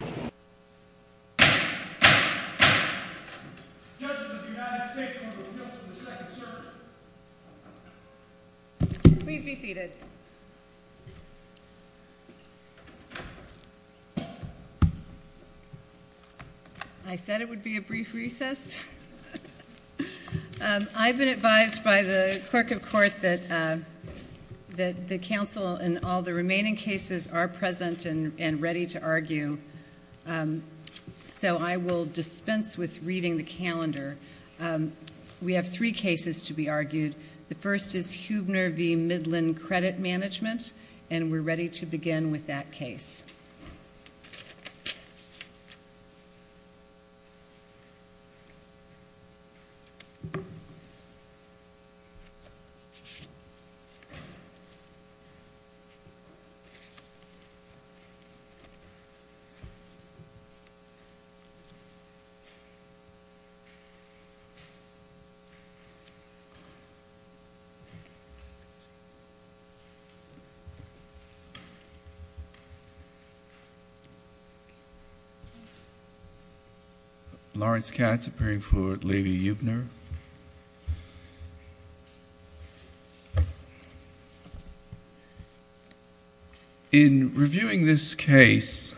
Judges of the United States Court of Appeals for the Second Circuit Please be seated. I said it would be a brief recess. I've been advised by the Clerk of Court that the Council and all the remaining cases are present and ready to argue, so I will dispense with reading the calendar. We have three cases to be argued. The first is Huebner v. Midland Credit Management, and we're ready to begin with that case. Lawrence Katz, appearing for Levy-Huebner. In reviewing this case,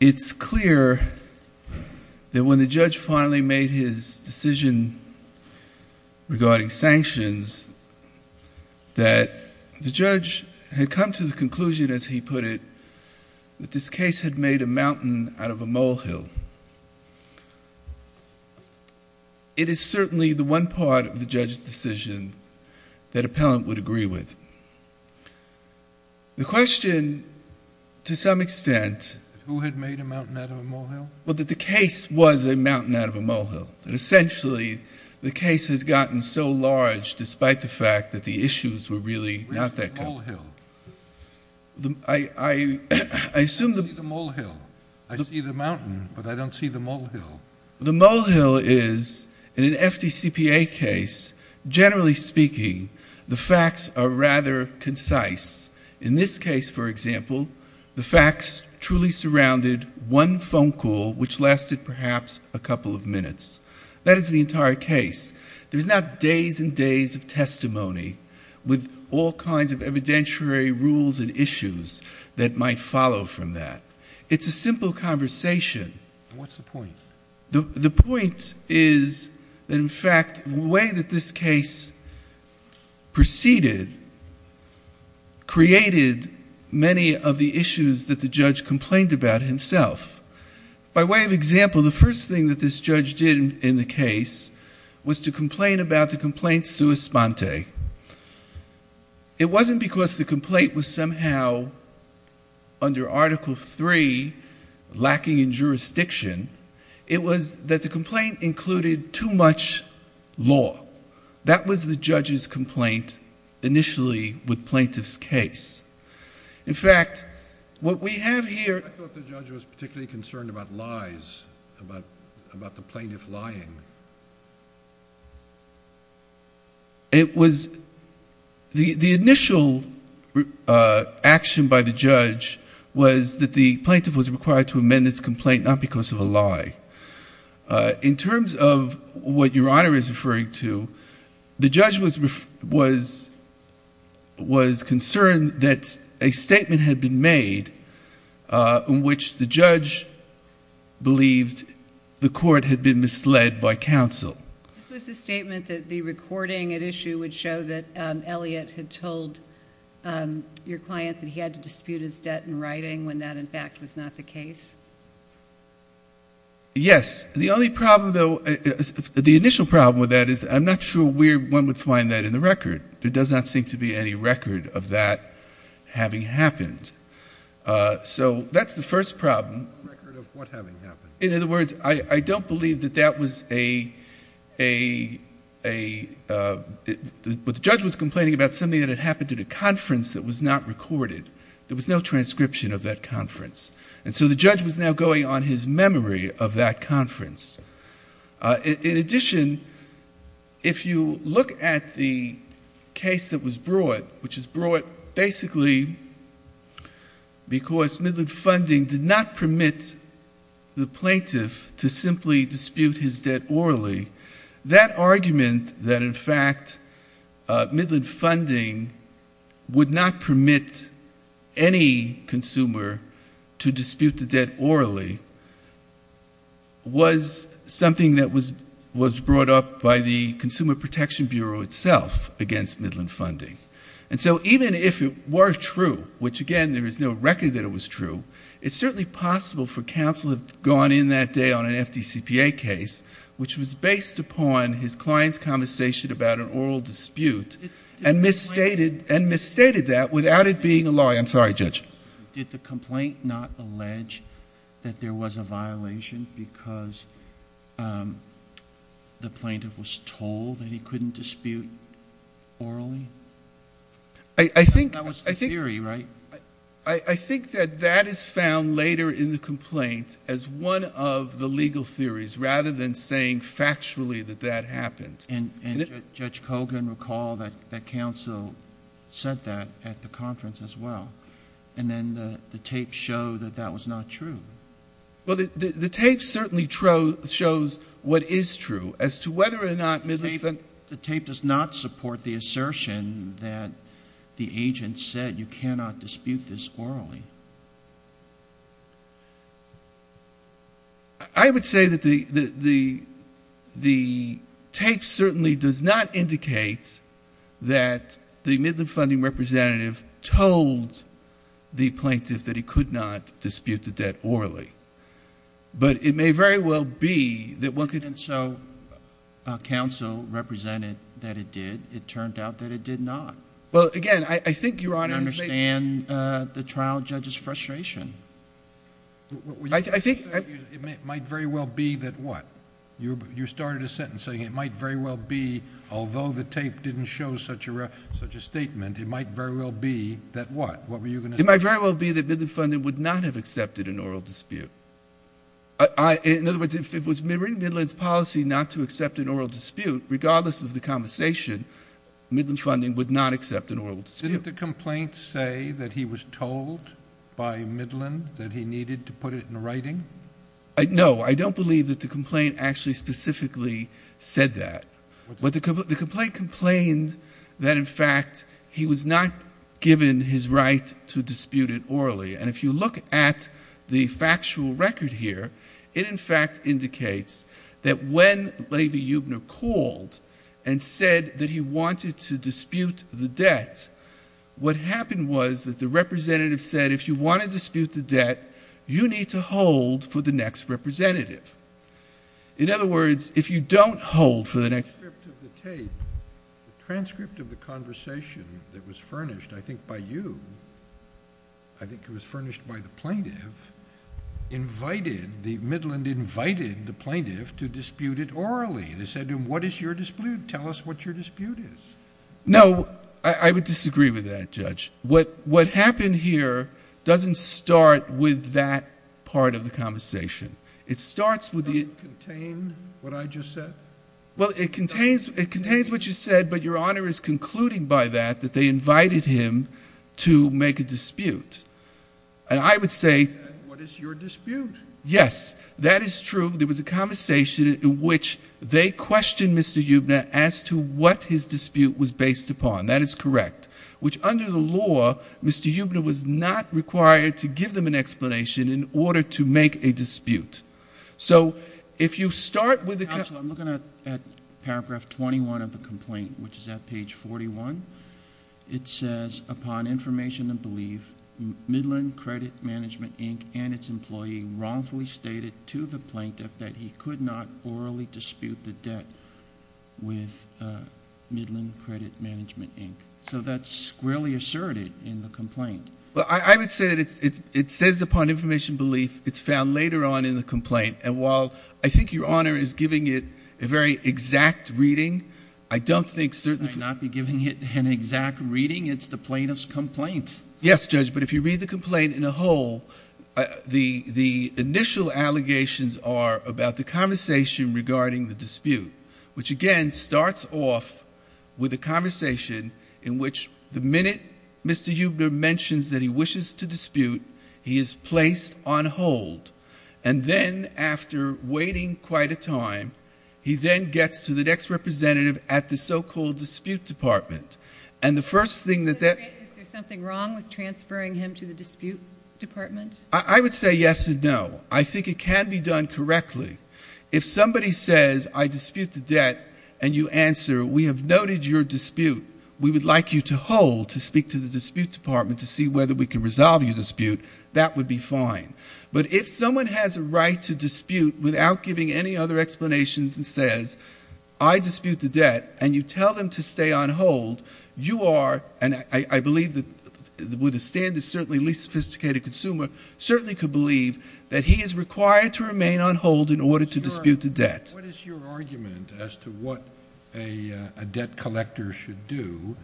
it's clear that when the judge finally made his decision regarding sanctions, that the judge had come to the conclusion, as he put it, that this case had made a mountain out of a molehill. It is certainly the one part of the judge's decision that appellant would agree with. The question, to some extent... Who had made a mountain out of a molehill? Well, that the case was a mountain out of a molehill. And essentially, the case has gotten so large, despite the fact that the issues were really not that... Where's the molehill? I assume the... I see the molehill. I see the mountain, but I don't see the molehill. The molehill is, in an FDCPA case, generally speaking, the facts are rather concise. In this case, for example, the facts truly surrounded one phone call, which lasted perhaps a couple of minutes. That is the entire case. There's not days and days of testimony with all kinds of evidentiary rules and issues that might follow from that. It's a simple conversation. What's the point? The point is that, in fact, the way that this case proceeded created many of the issues that the judge complained about himself. By way of example, the first thing that this judge did in the case was to complain about the complaint sui sponte. It wasn't because the complaint was somehow, under Article III, lacking in jurisdiction. It was that the complaint included too much law. That was the judge's complaint initially with plaintiff's case. In fact, what we have here... I thought the judge was particularly concerned about lies, about the plaintiff lying. The initial action by the judge was that the plaintiff was required to amend his complaint, not because of a lie. In terms of what Your Honor is referring to, the judge was concerned that a statement had been made in which the judge believed the court had been misled by counsel. This was the statement that the recording at issue would show that Elliot had told your client that he had to dispute his debt in writing when that, in fact, was not the case? Yes. The only problem, though... The initial problem with that is I'm not sure where one would find that in the record. There does not seem to be any record of that having happened. So that's the first problem. No record of what having happened. In other words, I don't believe that that was a... The judge was complaining about something that had happened at a conference that was not recorded. There was no transcription of that conference. In addition, if you look at the case that was brought, which was brought basically because Midland Funding did not permit the plaintiff to simply dispute his debt orally, that argument that, in fact, Midland Funding would not permit any consumer to dispute the debt orally was something that was brought up by the Consumer Protection Bureau itself against Midland Funding. And so even if it were true, which, again, there is no record that it was true, it's certainly possible for counsel to have gone in that day on an FDCPA case, which was based upon his client's conversation about an oral dispute and misstated that without it being a lie. I'm sorry, Judge. Did the complaint not allege that there was a violation because the plaintiff was told that he couldn't dispute orally? I think... That was the theory, right? I think that that is found later in the complaint as one of the legal theories rather than saying factually that that happened. And Judge Kogan recalled that counsel said that at the conference as well. And then the tapes show that that was not true. Well, the tape certainly shows what is true as to whether or not Midland Funding... The tape does not support the assertion that the agent said you cannot dispute this orally. I would say that the tape certainly does not indicate that the Midland Funding representative told the plaintiff that he could not dispute the debt orally. But it may very well be that one could... And so counsel represented that it did. It turned out that it did not. Well, again, I think Your Honor... I understand the trial judge's frustration. I think... It might very well be that what? You started a sentence saying it might very well be, although the tape didn't show such a statement, it might very well be that what? What were you going to say? It might very well be that Midland Funding would not have accepted an oral dispute. In other words, if it was in Midland's policy not to accept an oral dispute, regardless of the conversation, Midland Funding would not accept an oral dispute. Didn't the complaint say that he was told by Midland that he needed to put it in writing? No. I don't believe that the complaint actually specifically said that. The complaint complained that, in fact, he was not given his right to dispute it orally. And if you look at the factual record here, it, in fact, indicates that when Levy-Eubner called and said that he wanted to dispute the debt, what happened was that the representative said, if you want to dispute the debt, you need to hold for the next representative. In other words, if you don't hold for the next...... furnished by the plaintiff, invited, the Midland invited the plaintiff to dispute it orally. They said to him, what is your dispute? Tell us what your dispute is. No. I would disagree with that, Judge. What happened here doesn't start with that part of the conversation. It starts with the... Doesn't it contain what I just said? Well, it contains what you said, but Your Honor is concluding by that, that they invited him to make a dispute. And I would say... What is your dispute? Yes. That is true. There was a conversation in which they questioned Mr. Eubner as to what his dispute was based upon. That is correct. Which, under the law, Mr. Eubner was not required to give them an explanation in order to make a dispute. So, if you start with... Judge, I'm looking at paragraph 21 of the complaint, which is at page 41. It says, upon information and belief, Midland Credit Management, Inc., and its employee wrongfully stated to the plaintiff that he could not orally dispute the debt with Midland Credit Management, Inc. So that's squarely asserted in the complaint. Well, I would say that it says, upon information and belief, it's found later on in the complaint. And while I think Your Honor is giving it a very exact reading, I don't think... I might not be giving it an exact reading. It's the plaintiff's complaint. Yes, Judge, but if you read the complaint in a whole, the initial allegations are about the conversation regarding the dispute, which, again, starts off with a conversation in which the minute Mr. Eubner mentions that he wishes to dispute, he is placed on hold. And then, after waiting quite a time, he then gets to the next representative at the so-called dispute department. And the first thing that that... Is there something wrong with transferring him to the dispute department? I would say yes and no. I think it can be done correctly. If somebody says, I dispute the debt, and you answer, we have noted your dispute, we would like you to hold to speak to the dispute department to see whether we can resolve your dispute, that would be fine. But if someone has a right to dispute without giving any other explanations and says, I dispute the debt, and you tell them to stay on hold, you are... And I believe that with a standard, certainly least sophisticated consumer, certainly could believe that he is required to remain on hold in order to dispute the debt. What is your argument as to what a debt collector should do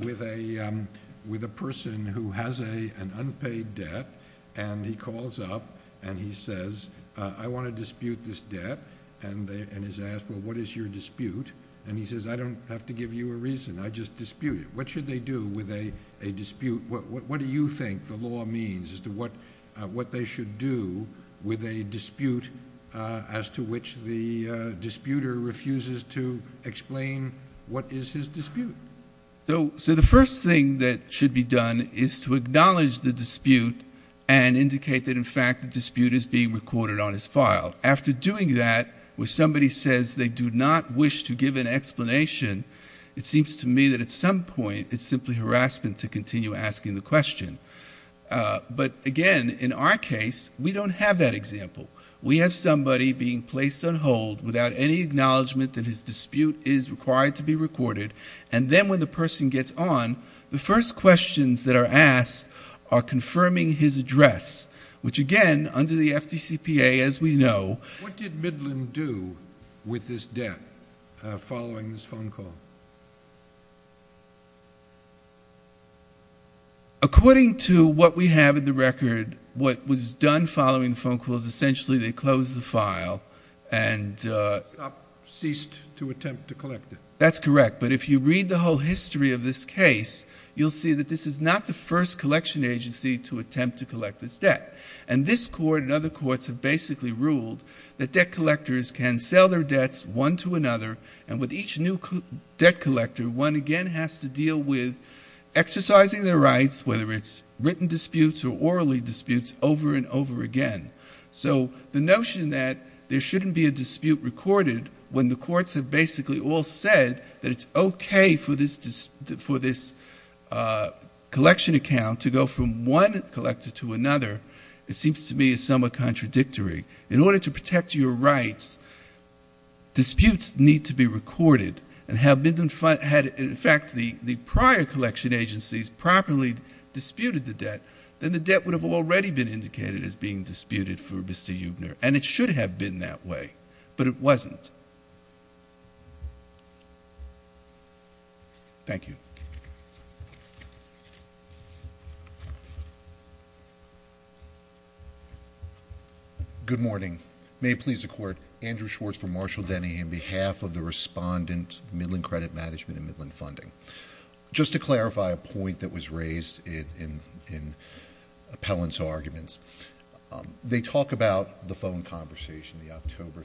with a person who has an unpaid debt, and he calls up and he says, I want to dispute this debt, and is asked, well, what is your dispute? And he says, I don't have to give you a reason. I just dispute it. What should they do with a dispute? What do you think the law means as to what they should do with a dispute as to which the disputer refuses to explain what is his dispute? So the first thing that should be done is to acknowledge the dispute and indicate that, in fact, the dispute is being recorded on his file. After doing that, when somebody says they do not wish to give an explanation, it seems to me that at some point it's simply harassment to continue asking the question. But, again, in our case, we don't have that example. We have somebody being placed on hold without any acknowledgement that his dispute is required to be recorded, and then when the person gets on, the first questions that are asked are confirming his address, which, again, under the FDCPA, as we know... Go on. According to what we have in the record, what was done following the phone call is essentially they closed the file and... Stopped, ceased to attempt to collect it. That's correct, but if you read the whole history of this case, you'll see that this is not the first collection agency to attempt to collect this debt. And this Court and other courts have basically ruled that debt collectors can sell their debts one to another, and with each new debt collector, one again has to deal with exercising their rights, whether it's written disputes or orally disputes, over and over again. So, the notion that there shouldn't be a dispute recorded when the courts have basically all said that it's okay for this collection account to go from one collector to another, it seems to me is somewhat contradictory. In order to protect your rights, disputes need to be recorded. And had, in fact, the prior collection agencies properly disputed the debt, then the debt would have already been indicated as being disputed for Mr. Eubner, and it should have been that way, but it wasn't. Thank you. Good morning. May it please the Court, Andrew Schwartz from Marshall Denny, on behalf of the Respondent, Midland Credit Management and Midland Funding. Just to clarify a point that was raised in Appellant's arguments, they talk about the phone conversation, the October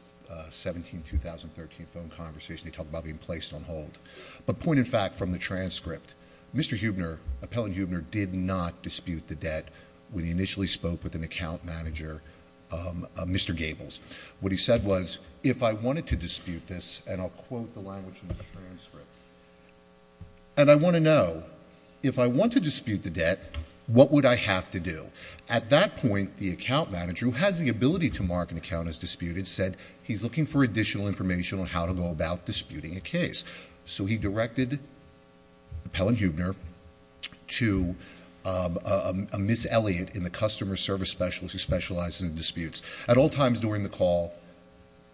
17, 2013 phone conversation. They talk about being placed on hold. But point, in fact, from the transcript, Mr. Eubner, Appellant Eubner, did not dispute the debt when he initially spoke with an account manager, Mr. Gables. What he said was, if I wanted to dispute this, and I'll quote the language in the transcript, and I want to know, if I want to dispute the debt, what would I have to do? At that point, the account manager, who has the ability to mark an account as disputed, said he's looking for additional information on how to go about disputing a case. So he directed Appellant Eubner to a Miss Elliott in the customer service specialist who specializes in disputes. At all times during the call,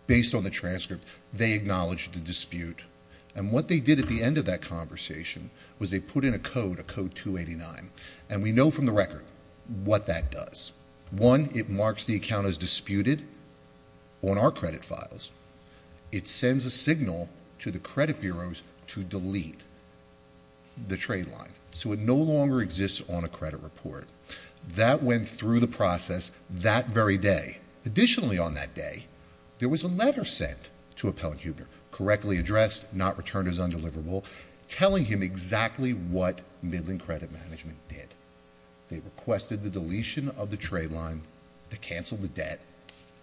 based on the transcript, they acknowledged the dispute. And what they did at the end of that conversation was they put in a code, a Code 289. And we know from the record what that does. One, it marks the account as disputed on our credit files. It sends a signal to the credit bureaus to delete the trade line. So it no longer exists on a credit report. That went through the process that very day. Additionally, on that day, there was a letter sent to Appellant Eubner, correctly addressed, not returned as undeliverable, telling him exactly what Midland Credit Management did. They requested the deletion of the trade line, to cancel the debt,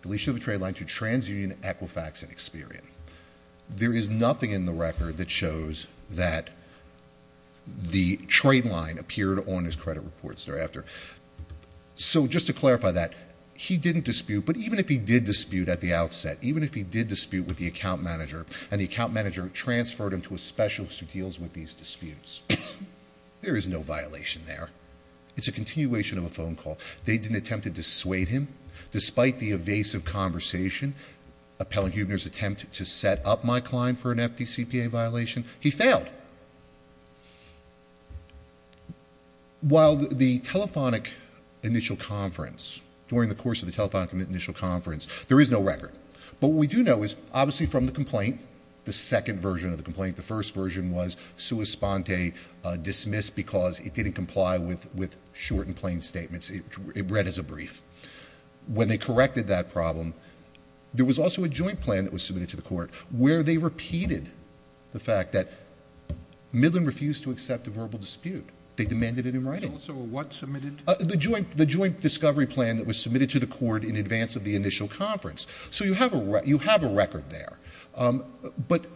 deletion of the trade line to TransUnion, Equifax, and Experian. There is nothing in the record that shows that the trade line appeared on his credit reports thereafter. So just to clarify that, he didn't dispute, but even if he did dispute at the outset, even if he did dispute with the account manager, and the account manager transferred him to a specialist who deals with these disputes, there is no violation there. It's a continuation of a phone call. They didn't attempt to dissuade him. Despite the evasive conversation, Appellant Eubner's attempt to set up my client for an empty CPA violation, he failed. But while the telephonic initial conference, during the course of the telephonic initial conference, there is no record. But what we do know is, obviously from the complaint, the second version of the complaint, the first version was sua sponte, dismissed because it didn't comply with short and plain statements. It read as a brief. When they corrected that problem, there was also a joint plan that was submitted to the court, where they repeated the fact that Midland refused to accept a verbal dispute. They demanded it in writing. So what submitted? The joint discovery plan that was submitted to the court in advance of the initial conference. So you have a record there. But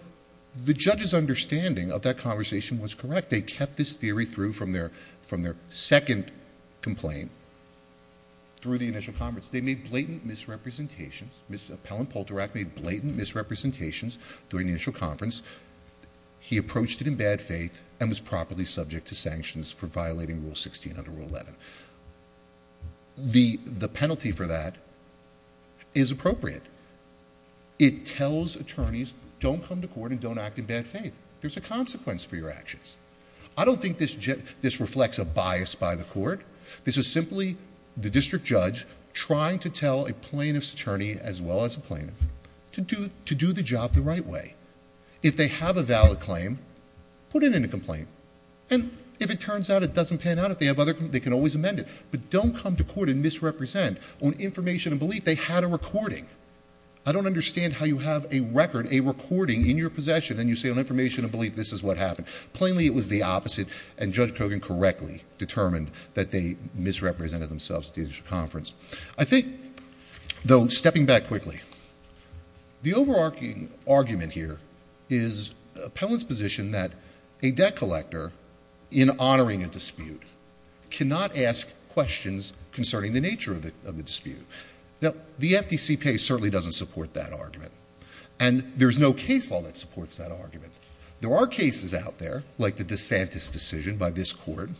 the judge's understanding of that conversation was correct. They kept this theory through from their second complaint through the initial conference. They made blatant misrepresentations. Appellant Poulterak made blatant misrepresentations during the initial conference. He approached it in bad faith and was properly subject to sanctions for violating Rule 16 under Rule 11. The penalty for that is appropriate. It tells attorneys, don't come to court and don't act in bad faith. There's a consequence for your actions. I don't think this reflects a bias by the court. This was simply the district judge trying to tell a plaintiff's attorney as well as a plaintiff to do the job the right way. If they have a valid claim, put it in a complaint. And if it turns out it doesn't pan out, if they have other complaints, they can always amend it. But don't come to court and misrepresent on information and belief. They had a recording. I don't understand how you have a record, a recording in your possession, and you say on information and belief this is what happened. Plainly it was the opposite, and Judge Kogan correctly determined that they misrepresented themselves at the initial conference. I think, though, stepping back quickly, the overarching argument here is appellant's position that a debt collector in honoring a dispute cannot ask questions concerning the nature of the dispute. Now, the FDC case certainly doesn't support that argument. And there's no case law that supports that argument. There are cases out there, like the DeSantis decision by this court,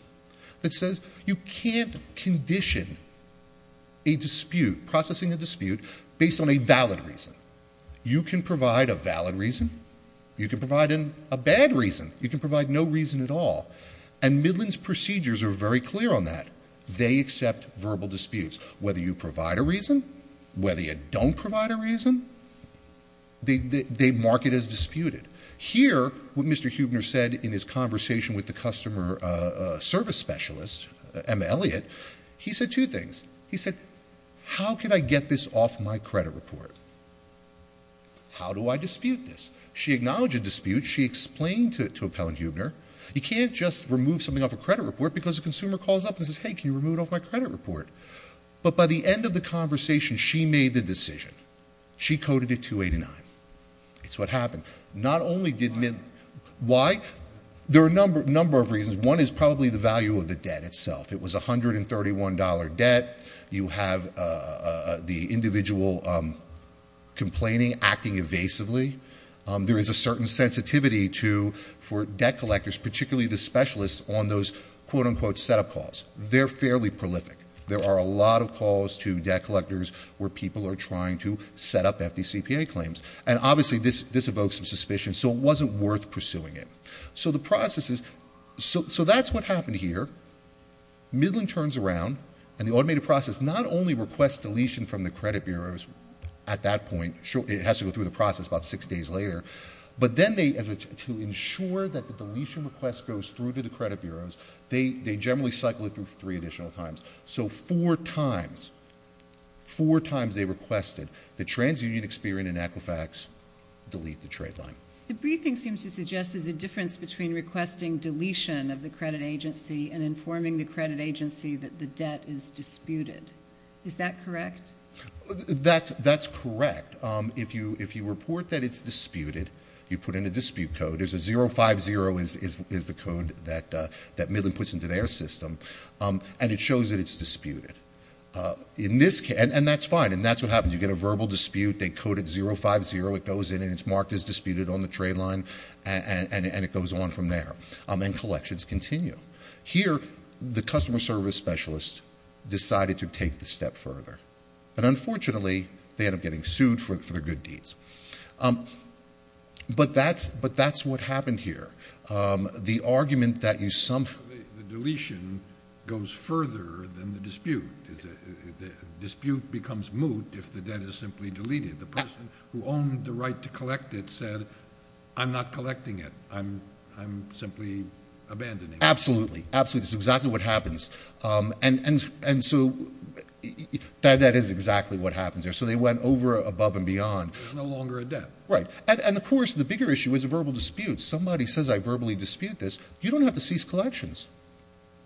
that says you can't condition a dispute, processing a dispute, based on a valid reason. You can provide a valid reason. You can provide a bad reason. You can provide no reason at all. And Midland's procedures are very clear on that. They accept verbal disputes. Whether you provide a reason, whether you don't provide a reason, they mark it as disputed. Here, what Mr. Huebner said in his conversation with the customer service specialist, Emma Elliott, he said two things. He said, how can I get this off my credit report? How do I dispute this? She acknowledged a dispute. She explained to appellant Huebner, you can't just remove something off a credit report because a consumer calls up and says, hey, can you remove it off my credit report? But by the end of the conversation, she made the decision. She coded it 289. It's what happened. Not only did Midland Why? Why? There are a number of reasons. One is probably the value of the debt itself. It was $131 debt. You have the individual complaining, acting evasively. There is a certain sensitivity to, for debt collectors, particularly the specialists on those quote unquote setup calls. They're fairly prolific. There are a lot of calls to debt collectors where people are trying to set up FDCPA claims. And obviously this evokes some suspicion. So it wasn't worth pursuing it. So the process is, so that's what happened here. Midland turns around, and the automated process not only requests deletion from the credit bureaus at that point, it has to go through the process about six days later. But then to ensure that the deletion request goes through to the credit bureaus, they generally cycle it through three additional times. So four times, four times they requested that TransUnion, Experian, and Equifax delete the trade line. The briefing seems to suggest there's a difference between requesting deletion of the credit agency and informing the credit agency that the debt is disputed. Is that correct? That's correct. If you report that it's disputed, you put in a dispute code. There's a 050 is the code that Midland puts into their system. And it shows that it's disputed. And that's fine. And that's what happens. You get a verbal dispute. They code it 050. It goes in, and it's marked as disputed on the trade line. And it goes on from there. And collections continue. Here, the customer service specialist decided to take the step further. And unfortunately, they end up getting sued for their good deeds. But that's what happened here. The argument that you somehow. The deletion goes further than the dispute. The dispute becomes moot if the debt is simply deleted. The person who owned the right to collect it said, I'm not collecting it. I'm simply abandoning it. Absolutely. Absolutely. That's exactly what happens. And so that is exactly what happens there. So they went over, above, and beyond. There's no longer a debt. Right. And, of course, the bigger issue is a verbal dispute. Somebody says I verbally dispute this. You don't have to cease collections.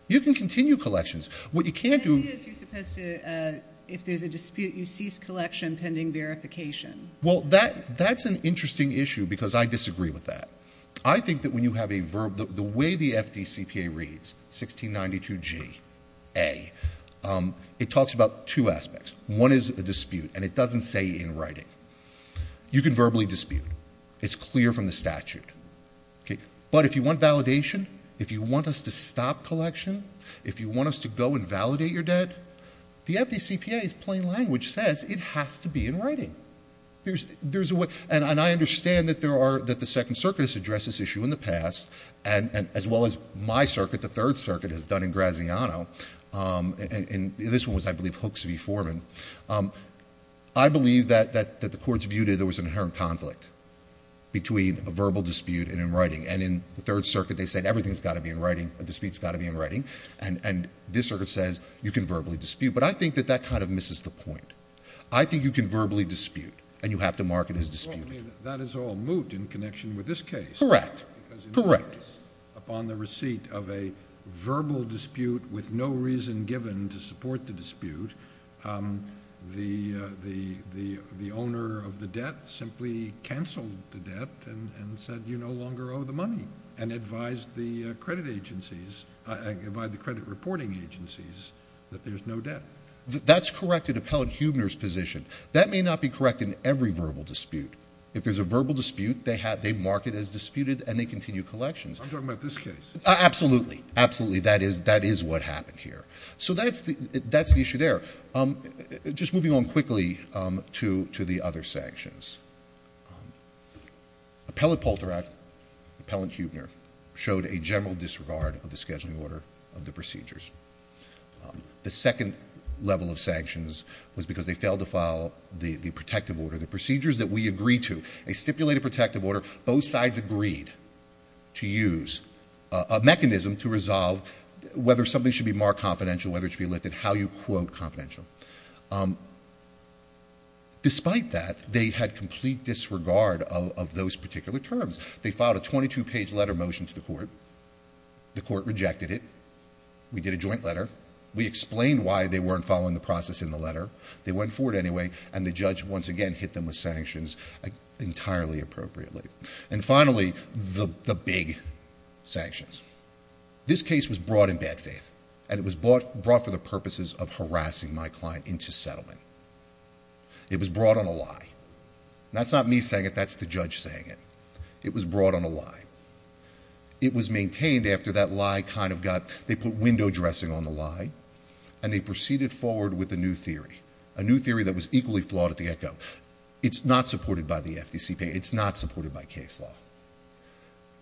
You can continue collections. What you can't do. The idea is you're supposed to, if there's a dispute, you cease collection pending verification. Well, that's an interesting issue because I disagree with that. I think that when you have a verb, the way the FDCPA reads, 1692Ga, it talks about two aspects. One is a dispute, and it doesn't say in writing. You can verbally dispute. It's clear from the statute. But if you want validation, if you want us to stop collection, if you want us to go and validate your debt, the FDCPA's plain language says it has to be in writing. And I understand that the Second Circuit has addressed this issue in the past, as well as my circuit, the Third Circuit has done in Graziano, and this one was, I believe, Hooks v. Foreman. I believe that the courts viewed it as there was an inherent conflict between a verbal dispute and in writing. And in the Third Circuit, they said everything's got to be in writing. A dispute's got to be in writing. And this circuit says you can verbally dispute. But I think that that kind of misses the point. I think you can verbally dispute, and you have to mark it as disputed. That is all moot in connection with this case. Correct. Correct. Upon the receipt of a verbal dispute with no reason given to support the dispute, the owner of the debt simply canceled the debt and said you no longer owe the money and advised the credit agencies, advised the credit reporting agencies that there's no debt. That's correct in Appellate Huebner's position. That may not be correct in every verbal dispute. If there's a verbal dispute, they mark it as disputed, and they continue collections. I'm talking about this case. Absolutely. Absolutely. That is what happened here. So that's the issue there. Just moving on quickly to the other sanctions. Appellate Polteract, Appellant Huebner, showed a general disregard of the scheduling order of the procedures. The second level of sanctions was because they failed to follow the protective order. The procedures that we agreed to, a stipulated protective order, both sides agreed to use a mechanism to resolve whether something should be marked confidential, whether it should be lifted, how you quote confidential. Despite that, they had complete disregard of those particular terms. They filed a 22-page letter motion to the court. The court rejected it. We did a joint letter. We explained why they weren't following the process in the letter. They went for it anyway, and the judge, once again, hit them with sanctions entirely appropriately. And finally, the big sanctions. This case was brought in bad faith, and it was brought for the purposes of harassing my client into settlement. It was brought on a lie. That's not me saying it. That's the judge saying it. It was brought on a lie. It was maintained after that lie kind of got, they put window dressing on the lie, and they proceeded forward with a new theory, a new theory that was equally flawed at the get-go. It's not supported by the FDCP. It's not supported by case law.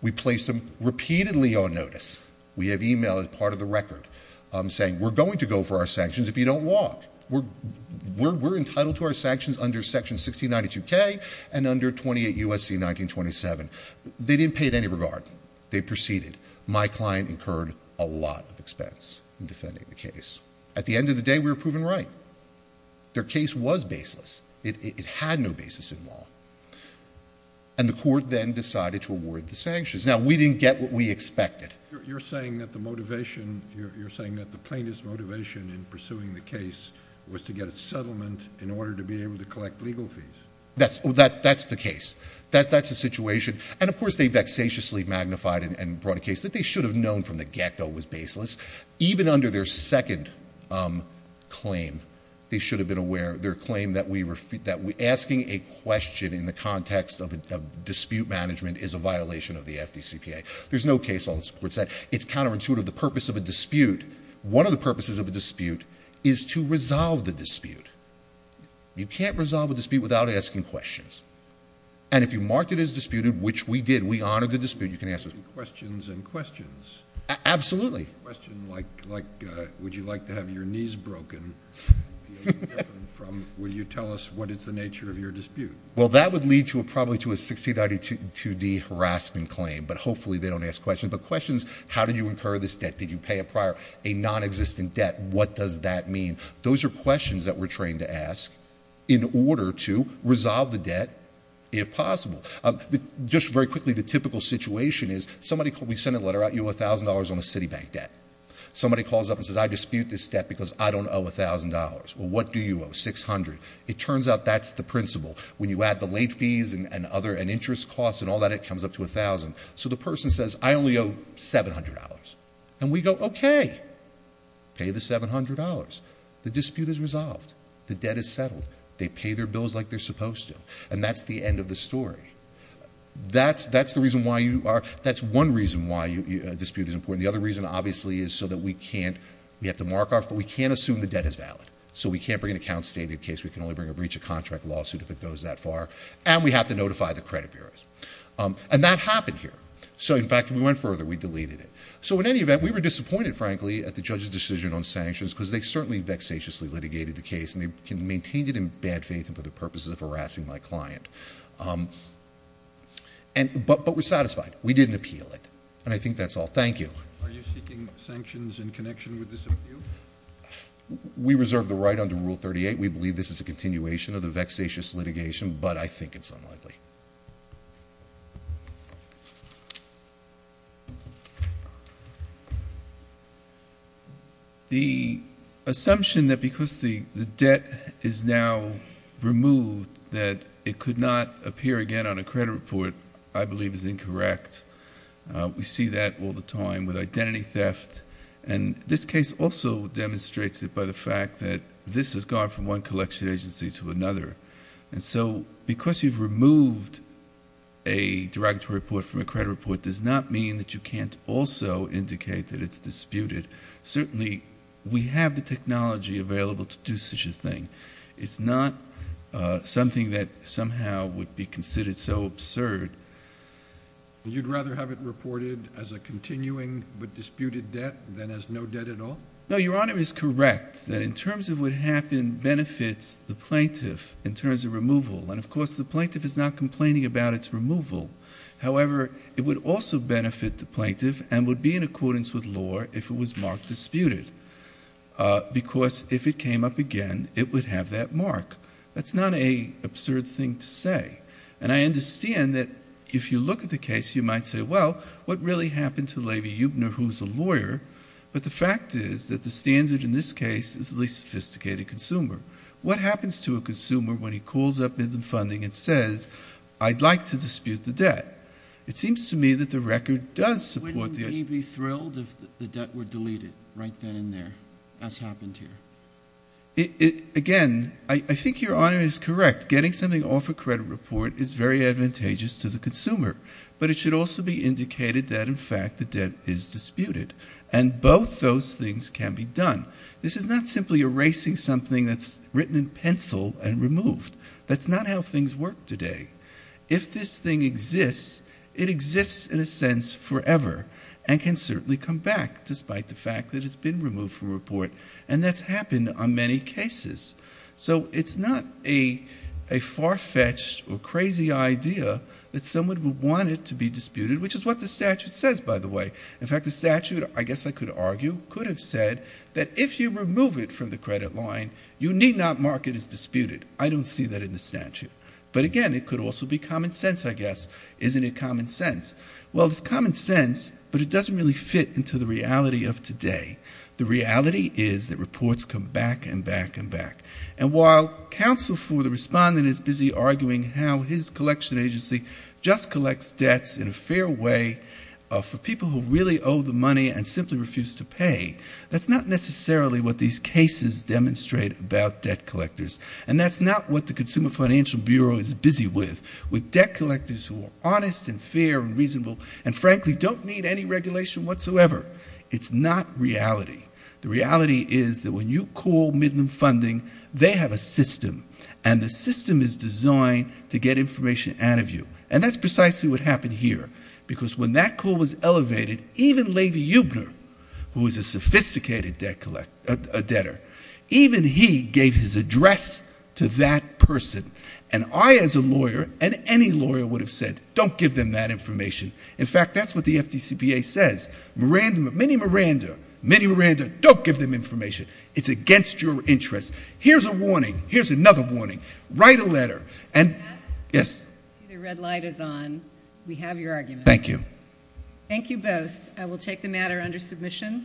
We placed them repeatedly on notice. We have e-mail as part of the record saying we're going to go for our sanctions if you don't walk. We're entitled to our sanctions under Section 1692K and under 28 U.S.C. 1927. They didn't pay it any regard. They proceeded. My client incurred a lot of expense in defending the case. At the end of the day, we were proven right. Their case was baseless. It had no basis in law. And the court then decided to award the sanctions. Now, we didn't get what we expected. You're saying that the motivation, you're saying that the plaintiff's motivation in pursuing the case was to get a settlement in order to be able to collect legal fees? That's the case. That's the situation. And, of course, they vexatiously magnified and brought a case that they should have known from the get-go was baseless. Even under their second claim, they should have been aware of their claim that asking a question in the context of dispute management is a violation of the FDCPA. There's no case law that supports that. It's counterintuitive. The purpose of a dispute, one of the purposes of a dispute is to resolve the dispute. You can't resolve a dispute without asking questions. And if you marked it as disputed, which we did, we honored the dispute, you can ask us. Questions and questions. Absolutely. A question like, would you like to have your knees broken? Will you tell us what is the nature of your dispute? Well, that would lead probably to a 1692D harassment claim, but hopefully they don't ask questions. But questions, how did you incur this debt? Did you pay a prior, a nonexistent debt? What does that mean? Those are questions that we're trained to ask in order to resolve the debt if possible. Just very quickly, the typical situation is somebody, we send a letter out, you owe $1,000 on a Citibank debt. Somebody calls up and says, I dispute this debt because I don't owe $1,000. Well, what do you owe, $600? It turns out that's the principle. When you add the late fees and interest costs and all that, it comes up to $1,000. So the person says, I only owe $700. And we go, okay. Pay the $700. The dispute is resolved. The debt is settled. They pay their bills like they're supposed to. And that's the end of the story. That's the reason why you are, that's one reason why a dispute is important. The other reason, obviously, is so that we can't, we have to mark off, but we can't assume the debt is valid. So we can't bring an account stating the case. We can only bring a breach of contract lawsuit if it goes that far. And we have to notify the credit bureaus. And that happened here. So, in fact, we went further. We deleted it. So, in any event, we were disappointed, frankly, at the judge's decision on sanctions, because they certainly vexatiously litigated the case. And they maintained it in bad faith and for the purposes of harassing my client. But we're satisfied. We didn't appeal it. And I think that's all. Thank you. Are you seeking sanctions in connection with this appeal? We reserve the right under Rule 38. We believe this is a continuation of the vexatious litigation. But I think it's unlikely. The assumption that because the debt is now removed, that it could not appear again on a credit report, I believe, is incorrect. We see that all the time with identity theft. And this case also demonstrates it by the fact that this has gone from one collection agency to another. And so, because you've removed a derogatory report from a credit report does not mean that you can't also indicate that it's disputed. Certainly, we have the technology available to do such a thing. It's not something that somehow would be considered so absurd. You'd rather have it reported as a continuing but disputed debt than as no debt at all? No, Your Honor is correct that in terms of what happened benefits the plaintiff in terms of removal. And, of course, the plaintiff is not complaining about its removal. However, it would also benefit the plaintiff and would be in accordance with law if it was marked disputed. Because if it came up again, it would have that mark. That's not an absurd thing to say. And I understand that if you look at the case, you might say, well, what really happened to Levi Eubner, who's a lawyer? But the fact is that the standard in this case is the least sophisticated consumer. What happens to a consumer when he calls up in the funding and says, I'd like to dispute the debt? It seems to me that the record does support that. Wouldn't he be thrilled if the debt were deleted right then and there, as happened here? Again, I think Your Honor is correct. Getting something off a credit report is very advantageous to the consumer. But it should also be indicated that, in fact, the debt is disputed. And both those things can be done. This is not simply erasing something that's written in pencil and removed. That's not how things work today. If this thing exists, it exists in a sense forever and can certainly come back, despite the fact that it's been removed from a report. And that's happened on many cases. So it's not a far-fetched or crazy idea that someone would want it to be disputed, which is what the statute says, by the way. In fact, the statute, I guess I could argue, could have said that if you remove it from the credit line, you need not mark it as disputed. I don't see that in the statute. But, again, it could also be common sense, I guess. Isn't it common sense? Well, it's common sense, but it doesn't really fit into the reality of today. The reality is that reports come back and back and back. And while counsel for the respondent is busy arguing how his collection agency just collects debts in a fair way for people who really owe the money and simply refuse to pay, that's not necessarily what these cases demonstrate about debt collectors. And that's not what the Consumer Financial Bureau is busy with, with debt collectors who are honest and fair and reasonable and, frankly, don't need any regulation whatsoever. It's not reality. The reality is that when you call Midland Funding, they have a system, and the system is designed to get information out of you. And that's precisely what happened here, because when that call was elevated, even Lavey Eubner, who is a sophisticated debtor, even he gave his address to that person. And I, as a lawyer, and any lawyer would have said, don't give them that information. In fact, that's what the FDCPA says. Miranda, Minnie Miranda, Minnie Miranda, don't give them information. It's against your interests. Here's a warning. Here's another warning. Write a letter. And— Mr. Katz? Yes. The red light is on. We have your argument. Thank you. Thank you both. I will take the matter under submission.